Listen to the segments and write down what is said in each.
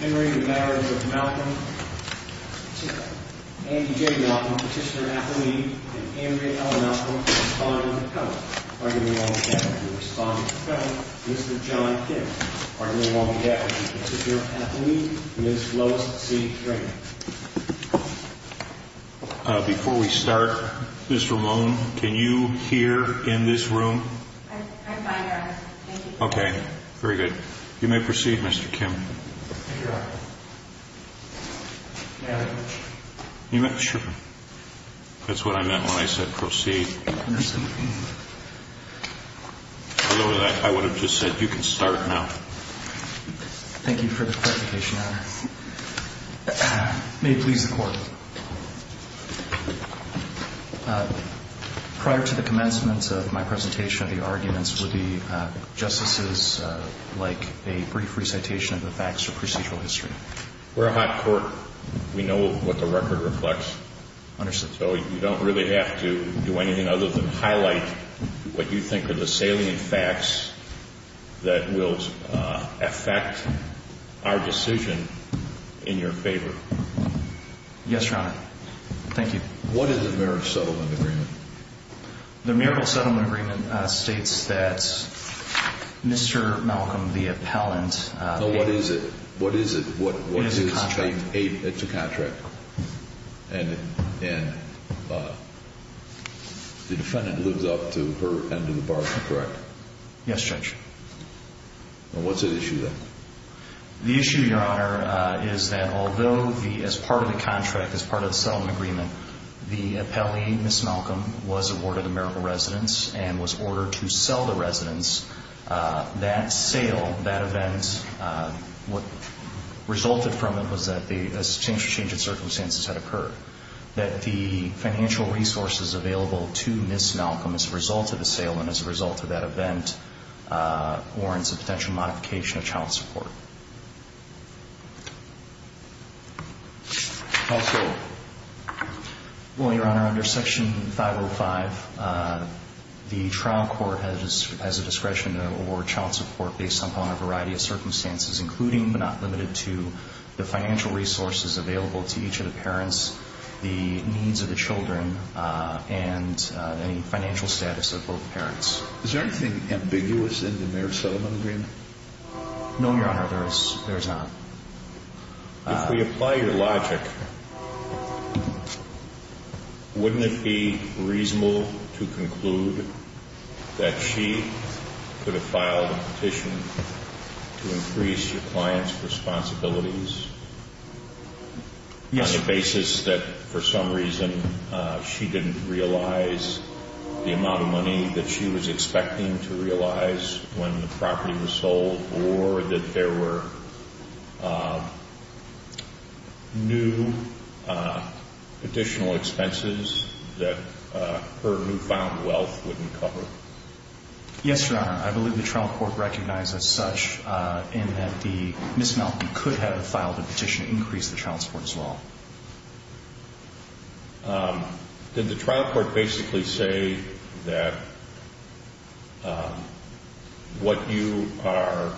Henry, the marriage of Malcolm, Andy J. Malcolm, petitioner, athlete, and Andrea L. Malcolm, respondent, appellate. Arguably, we won't be happy with the respondent, appellate, Mr. John King. Arguably, we won't be happy with the petitioner, athlete, Ms. Lois C. Drake. Before we start, Ms. Ramon, can you hear in this room? I'm fine, Your Honor. Thank you. Okay. Very good. You may proceed, Mr. Kim. Thank you, Your Honor. May I? You may. Sure. That's what I meant when I said proceed. Understood. Although, I would have just said you can start now. Thank you for the clarification, Your Honor. May it please the Court. Prior to the commencement of my presentation, the arguments would be justices like a brief recitation of the facts or procedural history. We're a hot court. We know what the record reflects. Understood. So you don't really have to do anything other than highlight what you think are the salient facts that will affect our decision in your favor. Yes, Your Honor. Thank you. What is the Merrill Settlement Agreement? The Merrill Settlement Agreement states that Mr. Malcolm, the appellant, What is it? What is it? It's a contract. It's a contract. And the defendant lives up to her end of the bargain, correct? Yes, Judge. What's at issue, then? The issue, Your Honor, is that although as part of the contract, as part of the settlement agreement, the appellee, Ms. Malcolm, was awarded a Merrill residence and was ordered to sell the residence, that sale, that event, what resulted from it was that a change in circumstances had occurred, that the financial resources available to Ms. Malcolm as a result of the sale and as a result of that event warrants a potential modification of child support. Also? Well, Your Honor, under Section 505, the trial court has a discretion to award child support based upon a variety of circumstances, including but not limited to the financial resources available to each of the parents, the needs of the children, and any financial status of both parents. Is there anything ambiguous in the Merrill Settlement Agreement? No, Your Honor, there's not. If we apply your logic, wouldn't it be reasonable to conclude that she could have filed a petition to increase her client's responsibilities? Yes, Your Honor. Is it that for some reason she didn't realize the amount of money that she was expecting to realize when the property was sold or that there were new additional expenses that her newfound wealth wouldn't cover? Yes, Your Honor. I believe the trial court recognized as such in that Ms. Malcolm could have filed a petition to increase the child support as well. Did the trial court basically say that what you are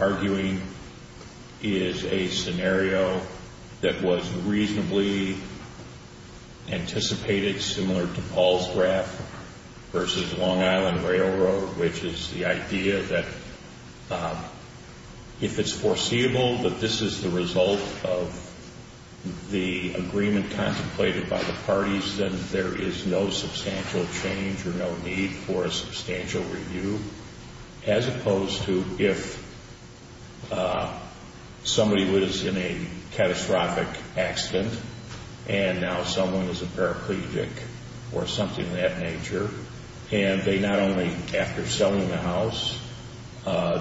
arguing is a scenario that was reasonably anticipated, similar to Paul's graph versus Long Island Railroad, which is the idea that if it's foreseeable that this is the result of the agreement contemplated by the parties, then there is no substantial change or no need for a substantial review, as opposed to if somebody was in a catastrophic accident and now someone is a paraplegic or something of that nature and they not only after selling the house,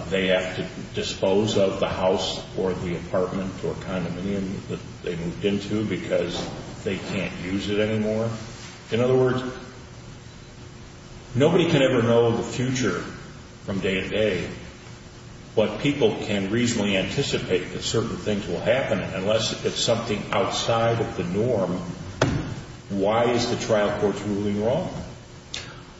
they have to dispose of the house or the apartment or condominium that they moved into because they can't use it anymore. In other words, nobody can ever know the future from day to day, but people can reasonably anticipate that certain things will happen unless it's something outside of the norm. Why is the trial court's ruling wrong?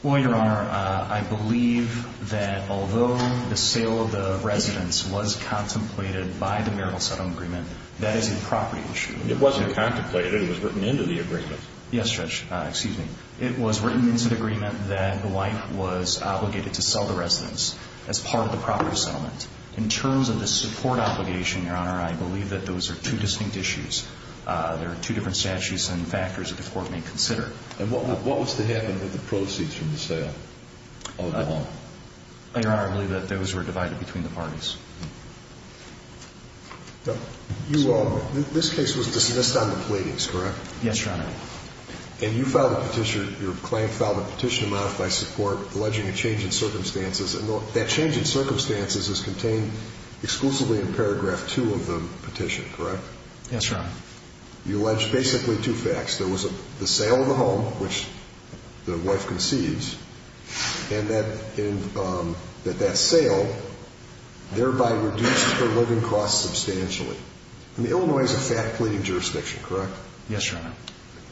Well, Your Honor, I believe that although the sale of the residence was contemplated by the marital settlement agreement, that is a property issue. It wasn't contemplated. It was written into the agreement. Yes, Judge. Excuse me. It was written into the agreement that the wife was obligated to sell the residence as part of the property settlement. In terms of the support obligation, Your Honor, I believe that those are two distinct issues. There are two different statutes and factors that the court may consider. And what was to happen with the proceeds from the sale of the home? Your Honor, I believe that those were divided between the parties. This case was dismissed on the platings, correct? Yes, Your Honor. And you filed a petition, your client filed a petition to modify support alleging a change in circumstances, and that change in circumstances is contained exclusively in paragraph 2 of the petition, correct? Yes, Your Honor. You allege basically two facts. There was the sale of the home, which the wife conceives, and that that sale thereby reduced her living costs substantially. I mean, Illinois is a fat plating jurisdiction, correct? Yes, Your Honor.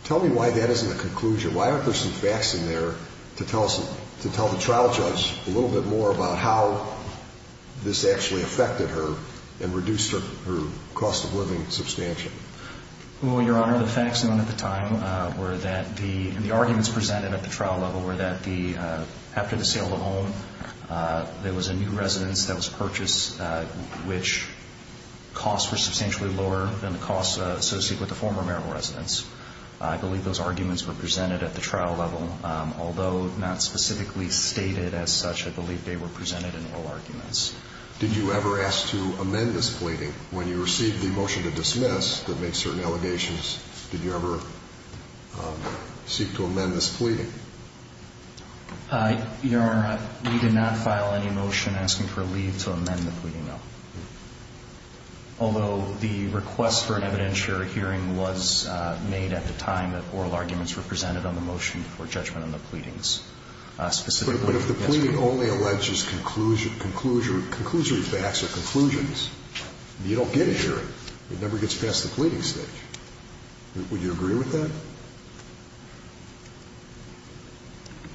Tell me why that isn't a conclusion. Why aren't there some facts in there to tell the trial judge a little bit more about how this actually affected her and reduced her cost of living substantially? Well, Your Honor, the facts known at the time were that the arguments presented at the trial level were that after the sale of the home, there was a new residence that was purchased, which costs were substantially lower than the costs associated with the former marital residence. I believe those arguments were presented at the trial level. Although not specifically stated as such, I believe they were presented in oral arguments. Did you ever ask to amend this pleading? When you received the motion to dismiss that makes certain allegations, did you ever seek to amend this pleading? Your Honor, we did not file any motion asking for leave to amend the pleading, no. Although the request for an evidentiary hearing was made at the time that oral arguments were presented on the motion for judgment on the pleadings. But if the pleading only alleges conclusory facts or conclusions, you don't get a hearing. It never gets past the pleading stage. Would you agree with that?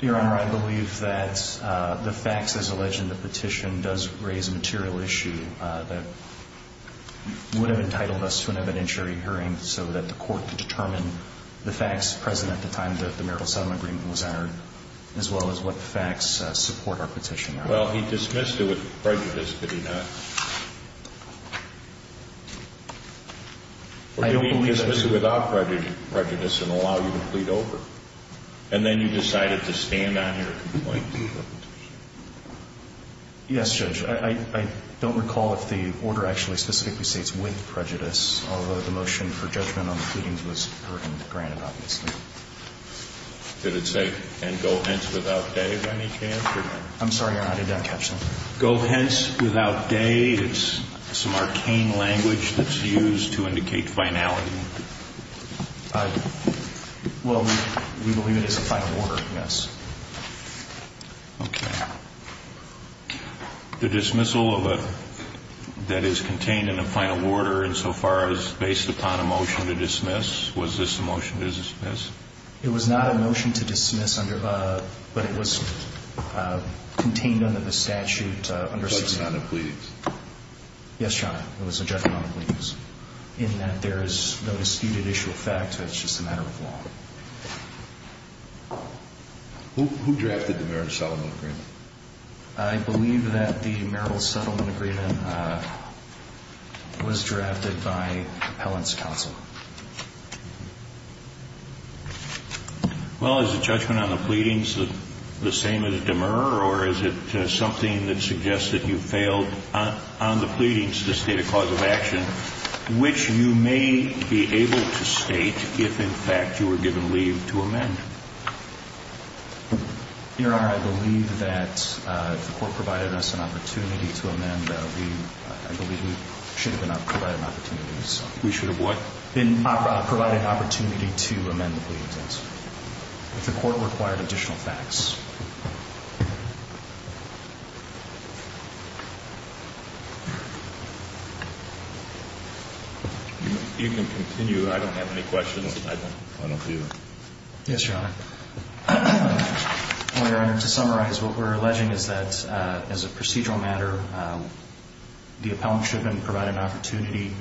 Your Honor, I believe that the facts as alleged in the petition does raise a material issue that would have entitled us to an evidentiary hearing so that the court could determine the facts present at the time that the marital settlement agreement was entered, as well as what facts support our petition. Well, he dismissed it with prejudice, did he not? Or did he dismiss it without prejudice and allow you to plead over? And then you decided to stand on your complaint? Yes, Judge. I don't recall if the order actually specifically states with prejudice. Although the motion for judgment on the pleadings was heard and granted, obviously. Did it say, and go hence without day, by any chance? I'm sorry, Your Honor, I did not catch that. Go hence without day. It's some arcane language that's used to indicate finality. Well, we believe it is a final order, yes. Okay. The dismissal of a letter that is contained in a final order insofar as based upon a motion to dismiss, was this a motion to dismiss? It was not a motion to dismiss, but it was contained under the statute. It was a judgment on the pleadings. Yes, Your Honor, it was a judgment on the pleadings, in that there is no disputed issue of fact. It's just a matter of law. Who drafted the marital settlement agreement? I believe that the marital settlement agreement was drafted by appellant's counsel. Well, is the judgment on the pleadings the same as Demer or is it something that suggests that you failed on the pleadings to state a cause of action, which you may be able to state if, in fact, you were given leave to amend? Your Honor, I believe that if the court provided us an opportunity to amend, that we should have been provided an opportunity to amend the pleadings. If the court required additional facts. You can continue. I don't have any questions. I don't either. Yes, Your Honor. Well, Your Honor, to summarize, what we're alleging is that, as a procedural matter, the appellant should have been provided an opportunity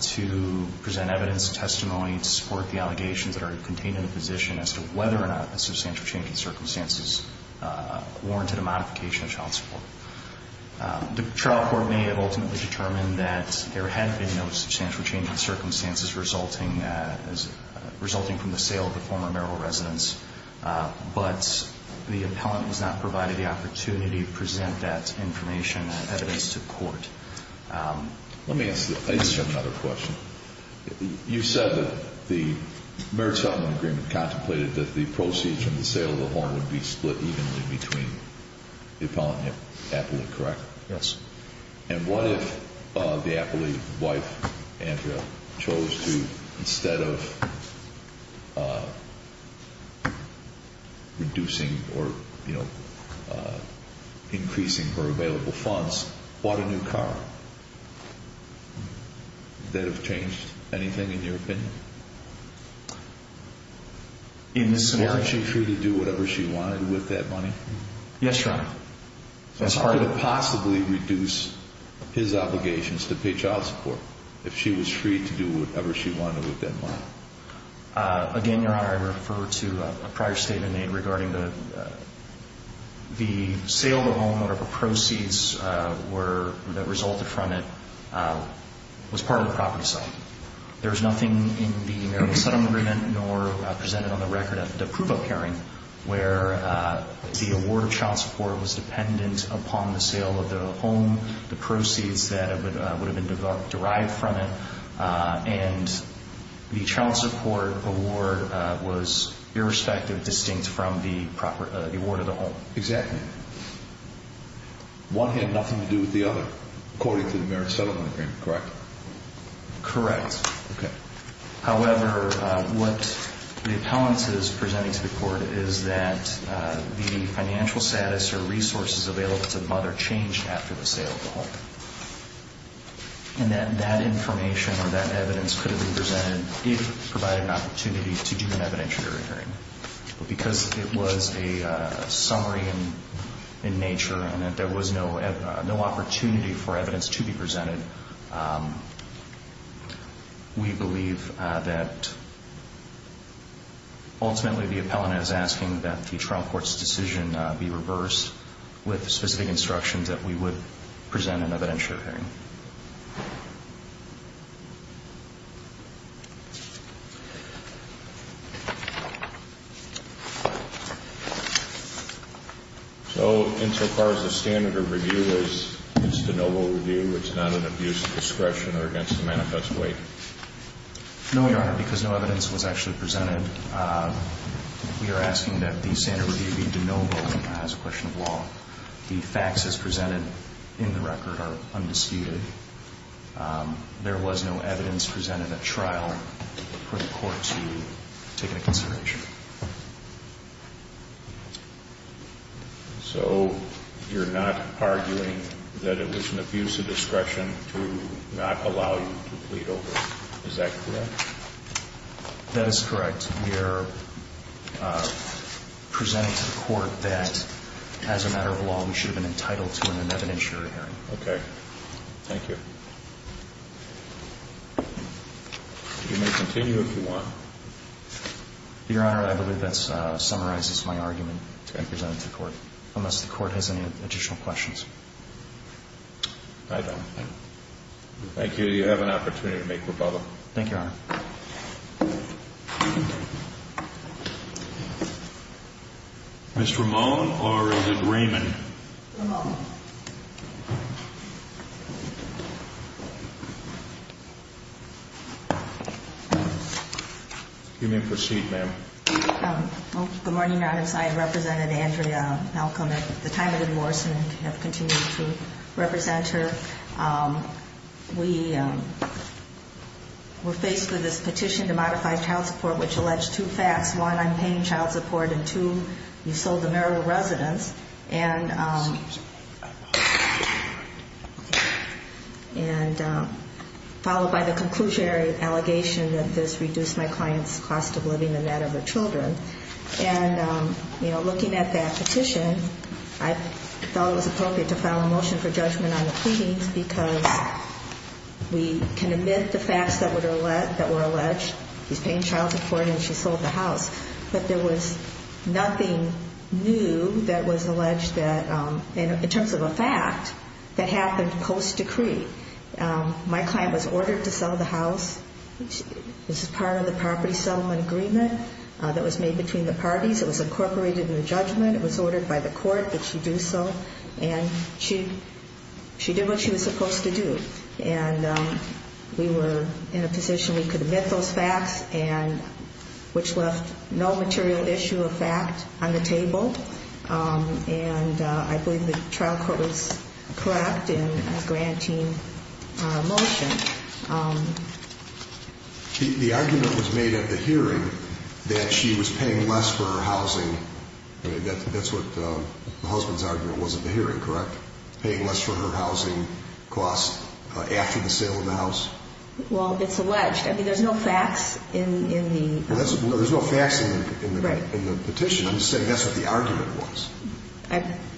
to present evidence, testimony to support the allegations that are contained in the position as to whether or not a substantial change in circumstances warranted a modification of child support. The trial court may have ultimately determined that there had been no substantial change in circumstances resulting from the sale of the former marital residence, but the appellant was not provided the opportunity to present that information or evidence to court. Let me ask you another question. You said that the marriage settlement agreement contemplated that the proceeds from the sale of the home would be split evenly between the appellant and the appellant, correct? Yes. And what if the appellee's wife, Andrea, chose to, instead of reducing or increasing her available funds, bought a new car? Would that have changed anything, in your opinion? In this scenario? Was she free to do whatever she wanted with that money? Yes, Your Honor. Could it possibly reduce his obligations to pay child support if she was free to do whatever she wanted with that money? Again, Your Honor, I refer to a prior statement made regarding the sale of the home or the proceeds that resulted from it was part of the property sale. There was nothing in the marital settlement agreement nor presented on the record at the approval hearing where the award of child support was dependent upon the sale of the home, the proceeds that would have been derived from it, and the child support award was, irrespective, distinct from the award of the home. Exactly. One had nothing to do with the other, according to the marriage settlement agreement, correct? Correct. Okay. However, what the appellant is presenting to the court is that the financial status or resources available to the mother changed after the sale of the home, and that that information or that evidence could have been presented if provided an opportunity to do an evidentiary hearing. Because it was a summary in nature and that there was no opportunity for evidence to be presented, we believe that ultimately the appellant is asking that the trial court's decision be reversed with specific instructions that we would present an evidentiary hearing. So insofar as the standard of review is de novo review, it's not an abuse of discretion or against the manifest way? No, Your Honor, because no evidence was actually presented. We are asking that the standard review be de novo as a question of law. The facts as presented in the record are undisputed. There was no evidence presented at trial for the court to take into consideration. So you're not arguing that it was an abuse of discretion to not allow you to plead over? Is that correct? That is correct. We are presenting to the court that as a matter of law, we should have been entitled to an evidentiary hearing. Okay. Thank you. You may continue if you want. Your Honor, I believe that summarizes my argument to be presented to the court, unless the court has any additional questions. I don't think. Thank you. You have an opportunity to make rebuttal. Thank you, Your Honor. Ms. Ramone or is it Raymond? Ramone. You may proceed, ma'am. Good morning, Your Honor. I represented Andrea Malcolm at the time of the divorce and have continued to represent her. We were faced with this petition to modify child support, which alleged two facts. One, I'm paying child support, and two, you sold the marital residence. And followed by the conclusionary allegation that this reduced my client's cost of living and that of her children. And, you know, looking at that petition, I thought it was appropriate to file a motion for judgment on the pleadings because we can admit the facts that were alleged. She's paying child support and she sold the house. But there was nothing new that was alleged that, in terms of a fact, that happened post-decree. My client was ordered to sell the house. This is part of the property settlement agreement that was made between the parties. It was incorporated in the judgment. It was ordered by the court that she do so. And she did what she was supposed to do. And we were in a position we could admit those facts and which left no material issue of fact on the table. And I believe the trial court was correct in granting a motion. The argument was made at the hearing that she was paying less for her housing. That's what the husband's argument was at the hearing, correct? Paying less for her housing costs after the sale of the house? Well, it's alleged. I mean, there's no facts in the petition. I'm just saying that's what the argument was.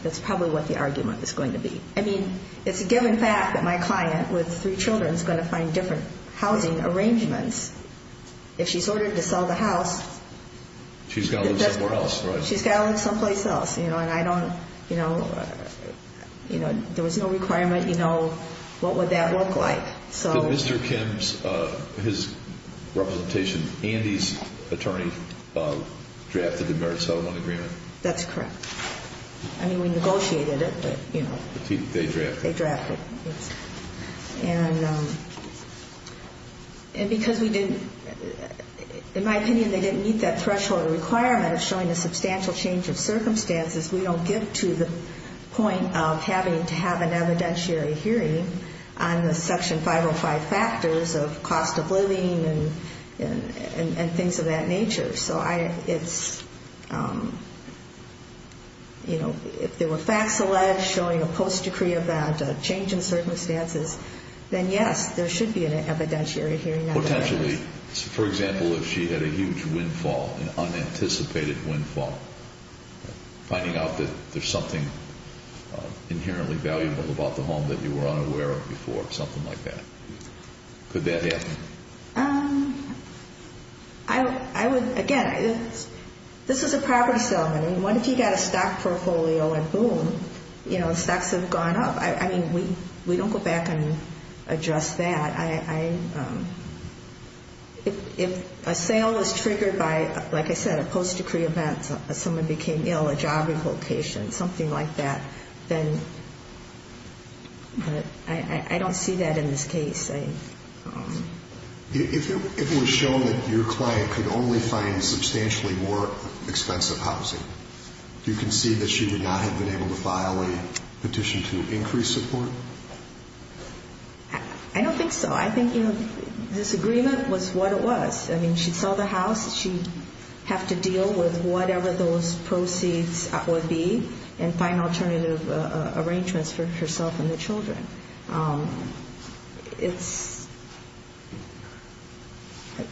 That's probably what the argument is going to be. I mean, it's a given fact that my client with three children is going to find different housing arrangements. If she's ordered to sell the house, she's got to live someplace else. And I don't, you know, there was no requirement, you know, what would that look like. So Mr. Kim's, his representation, Andy's attorney drafted the marriage settlement agreement? That's correct. I mean, we negotiated it, but, you know. They drafted it. They drafted it, yes. And because we didn't, in my opinion, they didn't meet that threshold requirement of showing a substantial change of circumstances, we don't get to the point of having to have an evidentiary hearing on the Section 505 factors of cost of living and things of that nature. So I, it's, you know, if there were facts alleged showing a post-decree event, a change in circumstances, then yes, there should be an evidentiary hearing. Potentially, for example, if she had a huge windfall, an unanticipated windfall, finding out that there's something inherently valuable about the home that you were unaware of before, something like that. Could that happen? I would, again, this is a property settlement. I mean, what if you've got a stock portfolio and boom, you know, stocks have gone up. I mean, we don't go back and address that. If a sale is triggered by, like I said, a post-decree event, someone became ill, a job revocation, something like that, then I don't see that in this case. If it was shown that your client could only find substantially more expensive housing, do you concede that she would not have been able to file a petition to increase support? I don't think so. I think, you know, this agreement was what it was. I mean, she saw the house, she'd have to deal with whatever those proceeds would be and find alternative arrangements for herself and the children. It's,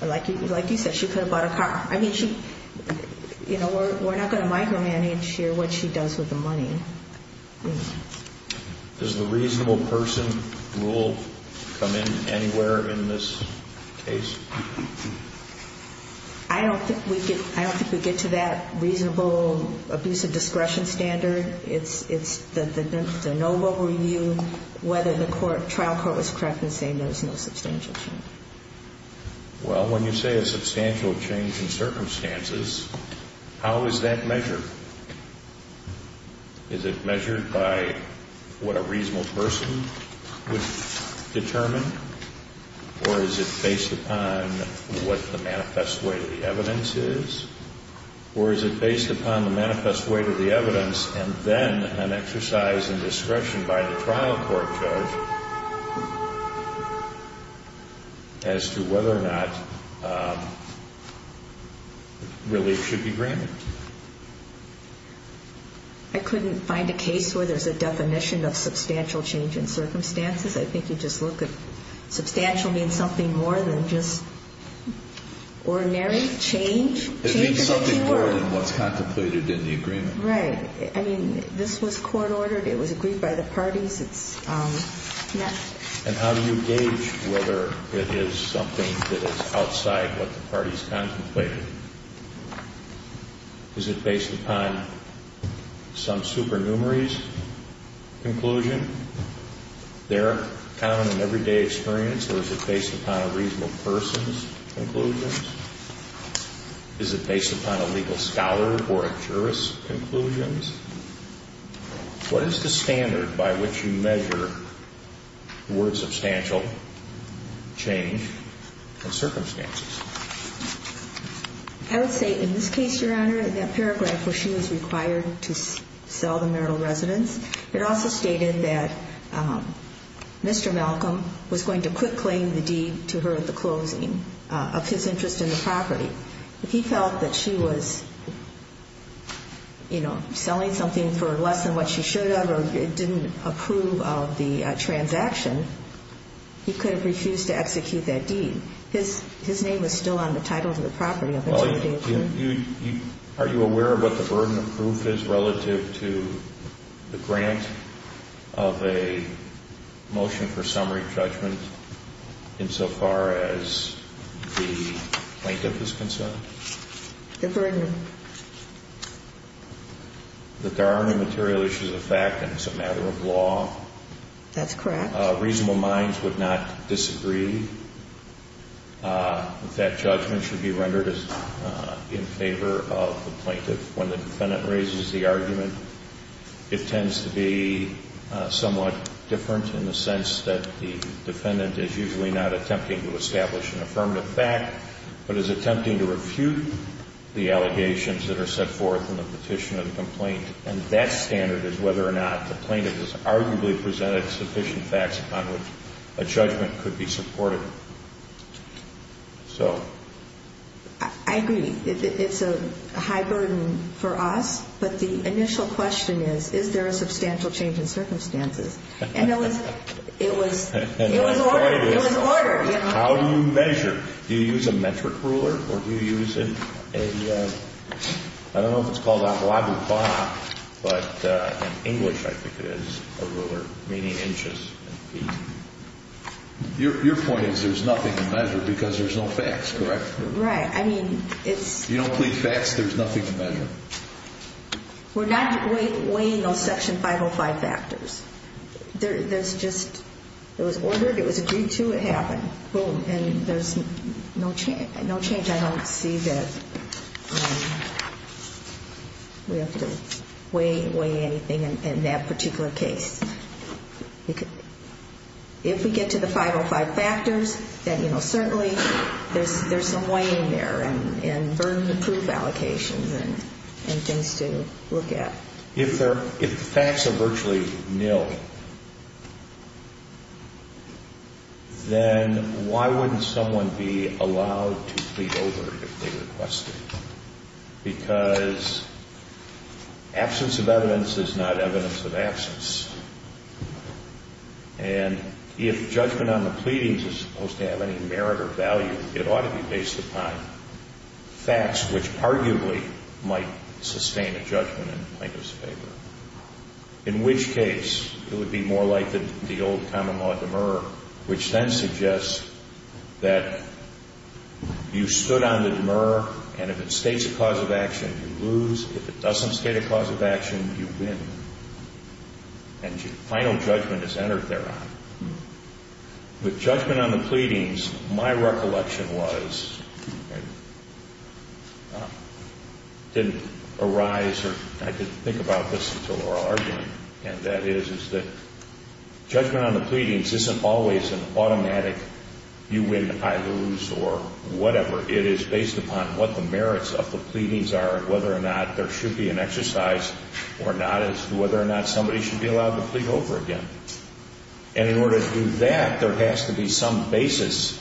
like you said, she could have bought a car. I mean, you know, we're not going to micromanage here what she does with the money. Does the reasonable person rule come in anywhere in this case? I don't think we get to that reasonable abuse of discretion standard. It's the noble review, whether the trial court was correct in saying there was no substantial change. Well, when you say a substantial change in circumstances, how is that measured? Is it measured by what a reasonable person would determine? Or is it based upon what the manifest weight of the evidence is? Or is it based upon the manifest weight of the evidence and then an exercise in discretion by the trial court judge as to whether or not relief should be granted? I couldn't find a case where there's a definition of substantial change in circumstances. I think you just look at substantial being something more than just ordinary change. It means something more than what's contemplated in the agreement. Right. I mean, this was court-ordered. It was agreed by the parties. It's not. And how do you gauge whether it is something that is outside what the parties contemplated? Is it based upon some supernumerary's conclusion, their common and everyday experience? Or is it based upon a reasonable person's conclusions? Is it based upon a legal scholar or a jurist's conclusions? What is the standard by which you measure the word substantial change in circumstances? I would say in this case, Your Honor, in that paragraph where she was required to sell the marital residence, it also stated that Mr. Malcolm was going to quick-claim the deed to her at the closing of his interest in the property. If he felt that she was, you know, selling something for less than what she should have or didn't approve of the transaction, he could have refused to execute that deed. His name was still on the title of the property. Well, are you aware of what the burden of proof is relative to the grant of a motion for summary judgment insofar as the plaintiff is concerned? The burden? That there are no material issues of fact and it's a matter of law. That's correct. Reasonable minds would not disagree that that judgment should be rendered in favor of the plaintiff. When the defendant raises the argument, it tends to be somewhat different in the sense that the defendant is usually not attempting to establish an affirmative fact but is attempting to refute the allegations that are set forth in the petition or the complaint. And that standard is whether or not the plaintiff has arguably presented sufficient facts upon which a judgment could be supported. So. I agree. It's a high burden for us. But the initial question is, is there a substantial change in circumstances? And it was ordered. How do you measure? Do you use a metric ruler? Or do you use a, I don't know if it's called a blah, blah, blah, but in English I think it is a ruler, meaning inches and feet. Your point is there's nothing to measure because there's no facts, correct? Right. I mean, it's. You don't believe facts, there's nothing to measure. We're not weighing those Section 505 factors. There's just, it was ordered, it was agreed to, it happened. Boom. And there's no change. I don't see that we have to weigh anything in that particular case. If we get to the 505 factors, then, you know, certainly there's some weighing there and burden-to-proof allocations and things to look at. If the facts are virtually nil, then why wouldn't someone be allowed to plead over if they requested? Because absence of evidence is not evidence of absence. And if judgment on the pleadings is supposed to have any merit or value, it ought to be based upon facts, which arguably might sustain a judgment in plaintiff's favor. In which case, it would be more like the old common law demur, which then suggests that you stood on the demur, and if it states a cause of action, you lose. If it doesn't state a cause of action, you win. And final judgment is entered thereon. With judgment on the pleadings, my recollection was, didn't arise, or I didn't think about this until oral argument, and that is, is that judgment on the pleadings isn't always an automatic, you win, I lose, or whatever. It is based upon what the merits of the pleadings are and whether or not there should be an exercise or not, as to whether or not somebody should be allowed to plead over again. And in order to do that, there has to be some basis,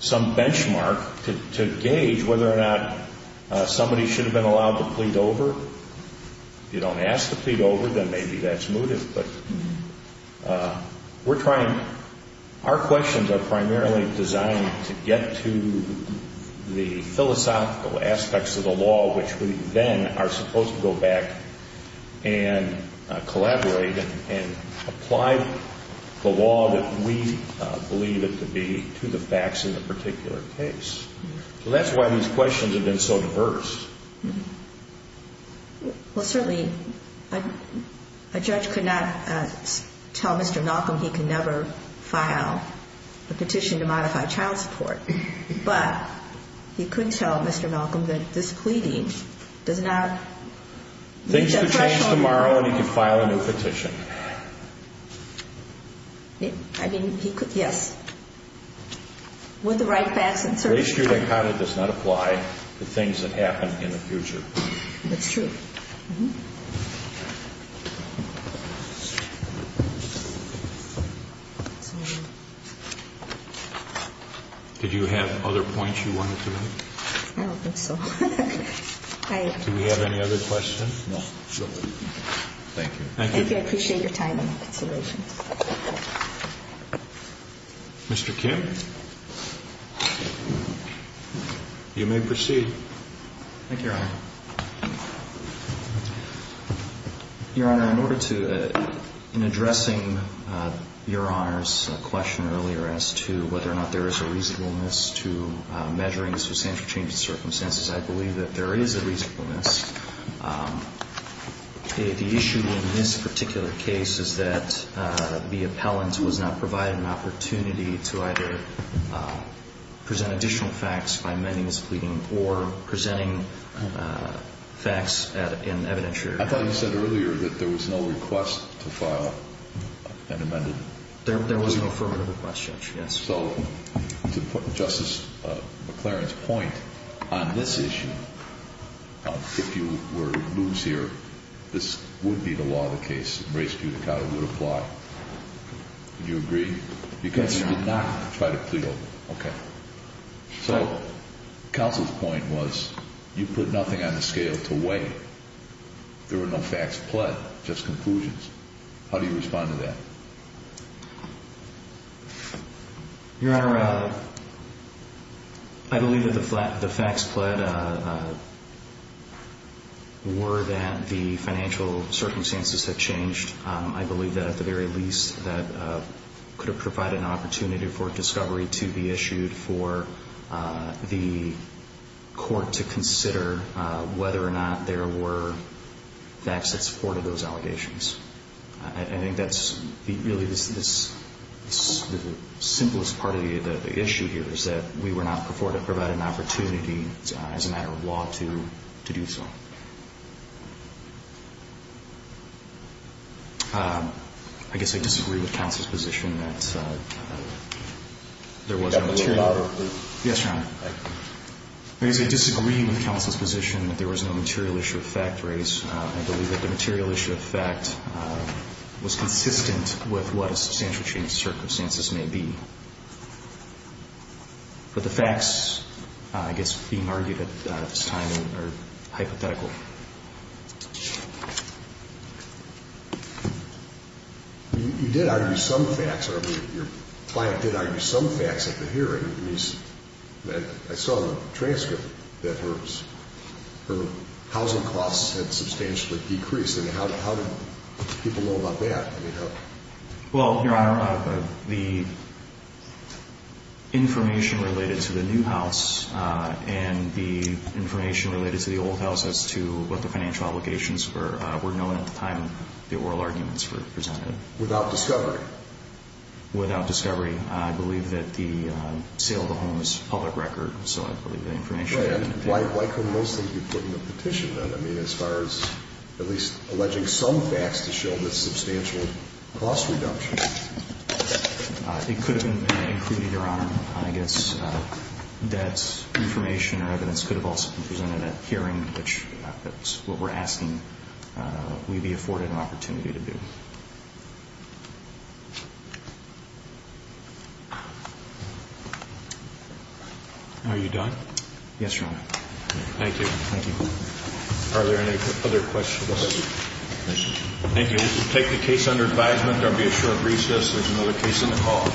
some benchmark, to gauge whether or not somebody should have been allowed to plead over. If you don't ask to plead over, then maybe that's mooted. But we're trying, our questions are primarily designed to get to the philosophical aspects of the law, which we then are supposed to go back and collaborate and apply the law that we believe it to be to the facts in the particular case. So that's why these questions have been so diverse. Well, certainly, a judge could not tell Mr. Malcolm he can never file a petition to modify child support, but he could tell Mr. Malcolm that this pleading does not reach a threshold. Things could change tomorrow, and he could file a new petition. I mean, he could, yes. With the right facets. The issue that kind of does not apply to things that happen in the future. That's true. Did you have other points you wanted to make? I don't think so. Do we have any other questions? No. Thank you. Thank you. I appreciate your time and consideration. Mr. Kim? You may proceed. Thank you, Your Honor. Your Honor, in order to, in addressing Your Honor's question earlier as to whether or not there is a reasonableness to measuring substantial changes in circumstances, I believe that there is a reasonableness. The issue in this particular case is that the appellant was not provided an opportunity to either present additional facts by amending this pleading or presenting facts in evidentiary. I thought you said earlier that there was no request to file an amended plea. There was no affirmative request, Judge, yes. So, to Justice McLaren's point on this issue, if you were to lose here, this would be the law of the case. It would apply. Do you agree? Yes, Your Honor. You did not try to plead over. Okay. So, counsel's point was you put nothing on the scale to weigh. There were no facts pled, just conclusions. How do you respond to that? Your Honor, I believe that the facts pled were that the financial circumstances had changed. I believe that, at the very least, that could have provided an opportunity for discovery to be issued for the court to consider whether or not there were facts that supported those allegations. I think that's really the simplest part of the issue here, is that we were not provided an opportunity as a matter of law to do so. I guess I disagree with counsel's position that there was no material. Yes, Your Honor. I guess I disagree with counsel's position that there was no material issue of fact raised. I believe that the material issue of fact was consistent with what a substantial change in circumstances may be. But the facts, I guess, being argued at this time are hypothetical. You did argue some facts, or your client did argue some facts at the hearing. I saw in the transcript that her housing costs had substantially decreased, and how did people know about that? Well, Your Honor, the information related to the new house and the information related to the old house as to what the financial obligations were, were known at the time the oral arguments were presented. Without discovery? Without discovery. I believe that the sale of the home is public record. So I believe the information... Right. Why couldn't those things be put in the petition, then? I mean, as far as at least alleging some facts to show the substantial cost reduction. It could have been included, Your Honor. I guess that information or evidence could have also been presented at hearing, which that's what we're asking we be afforded an opportunity to do. Are you done? Yes, Your Honor. Thank you. Thank you. Are there any other questions? No questions. Thank you. We'll take the case under advisement. There will be a short recess. There's another case on the call.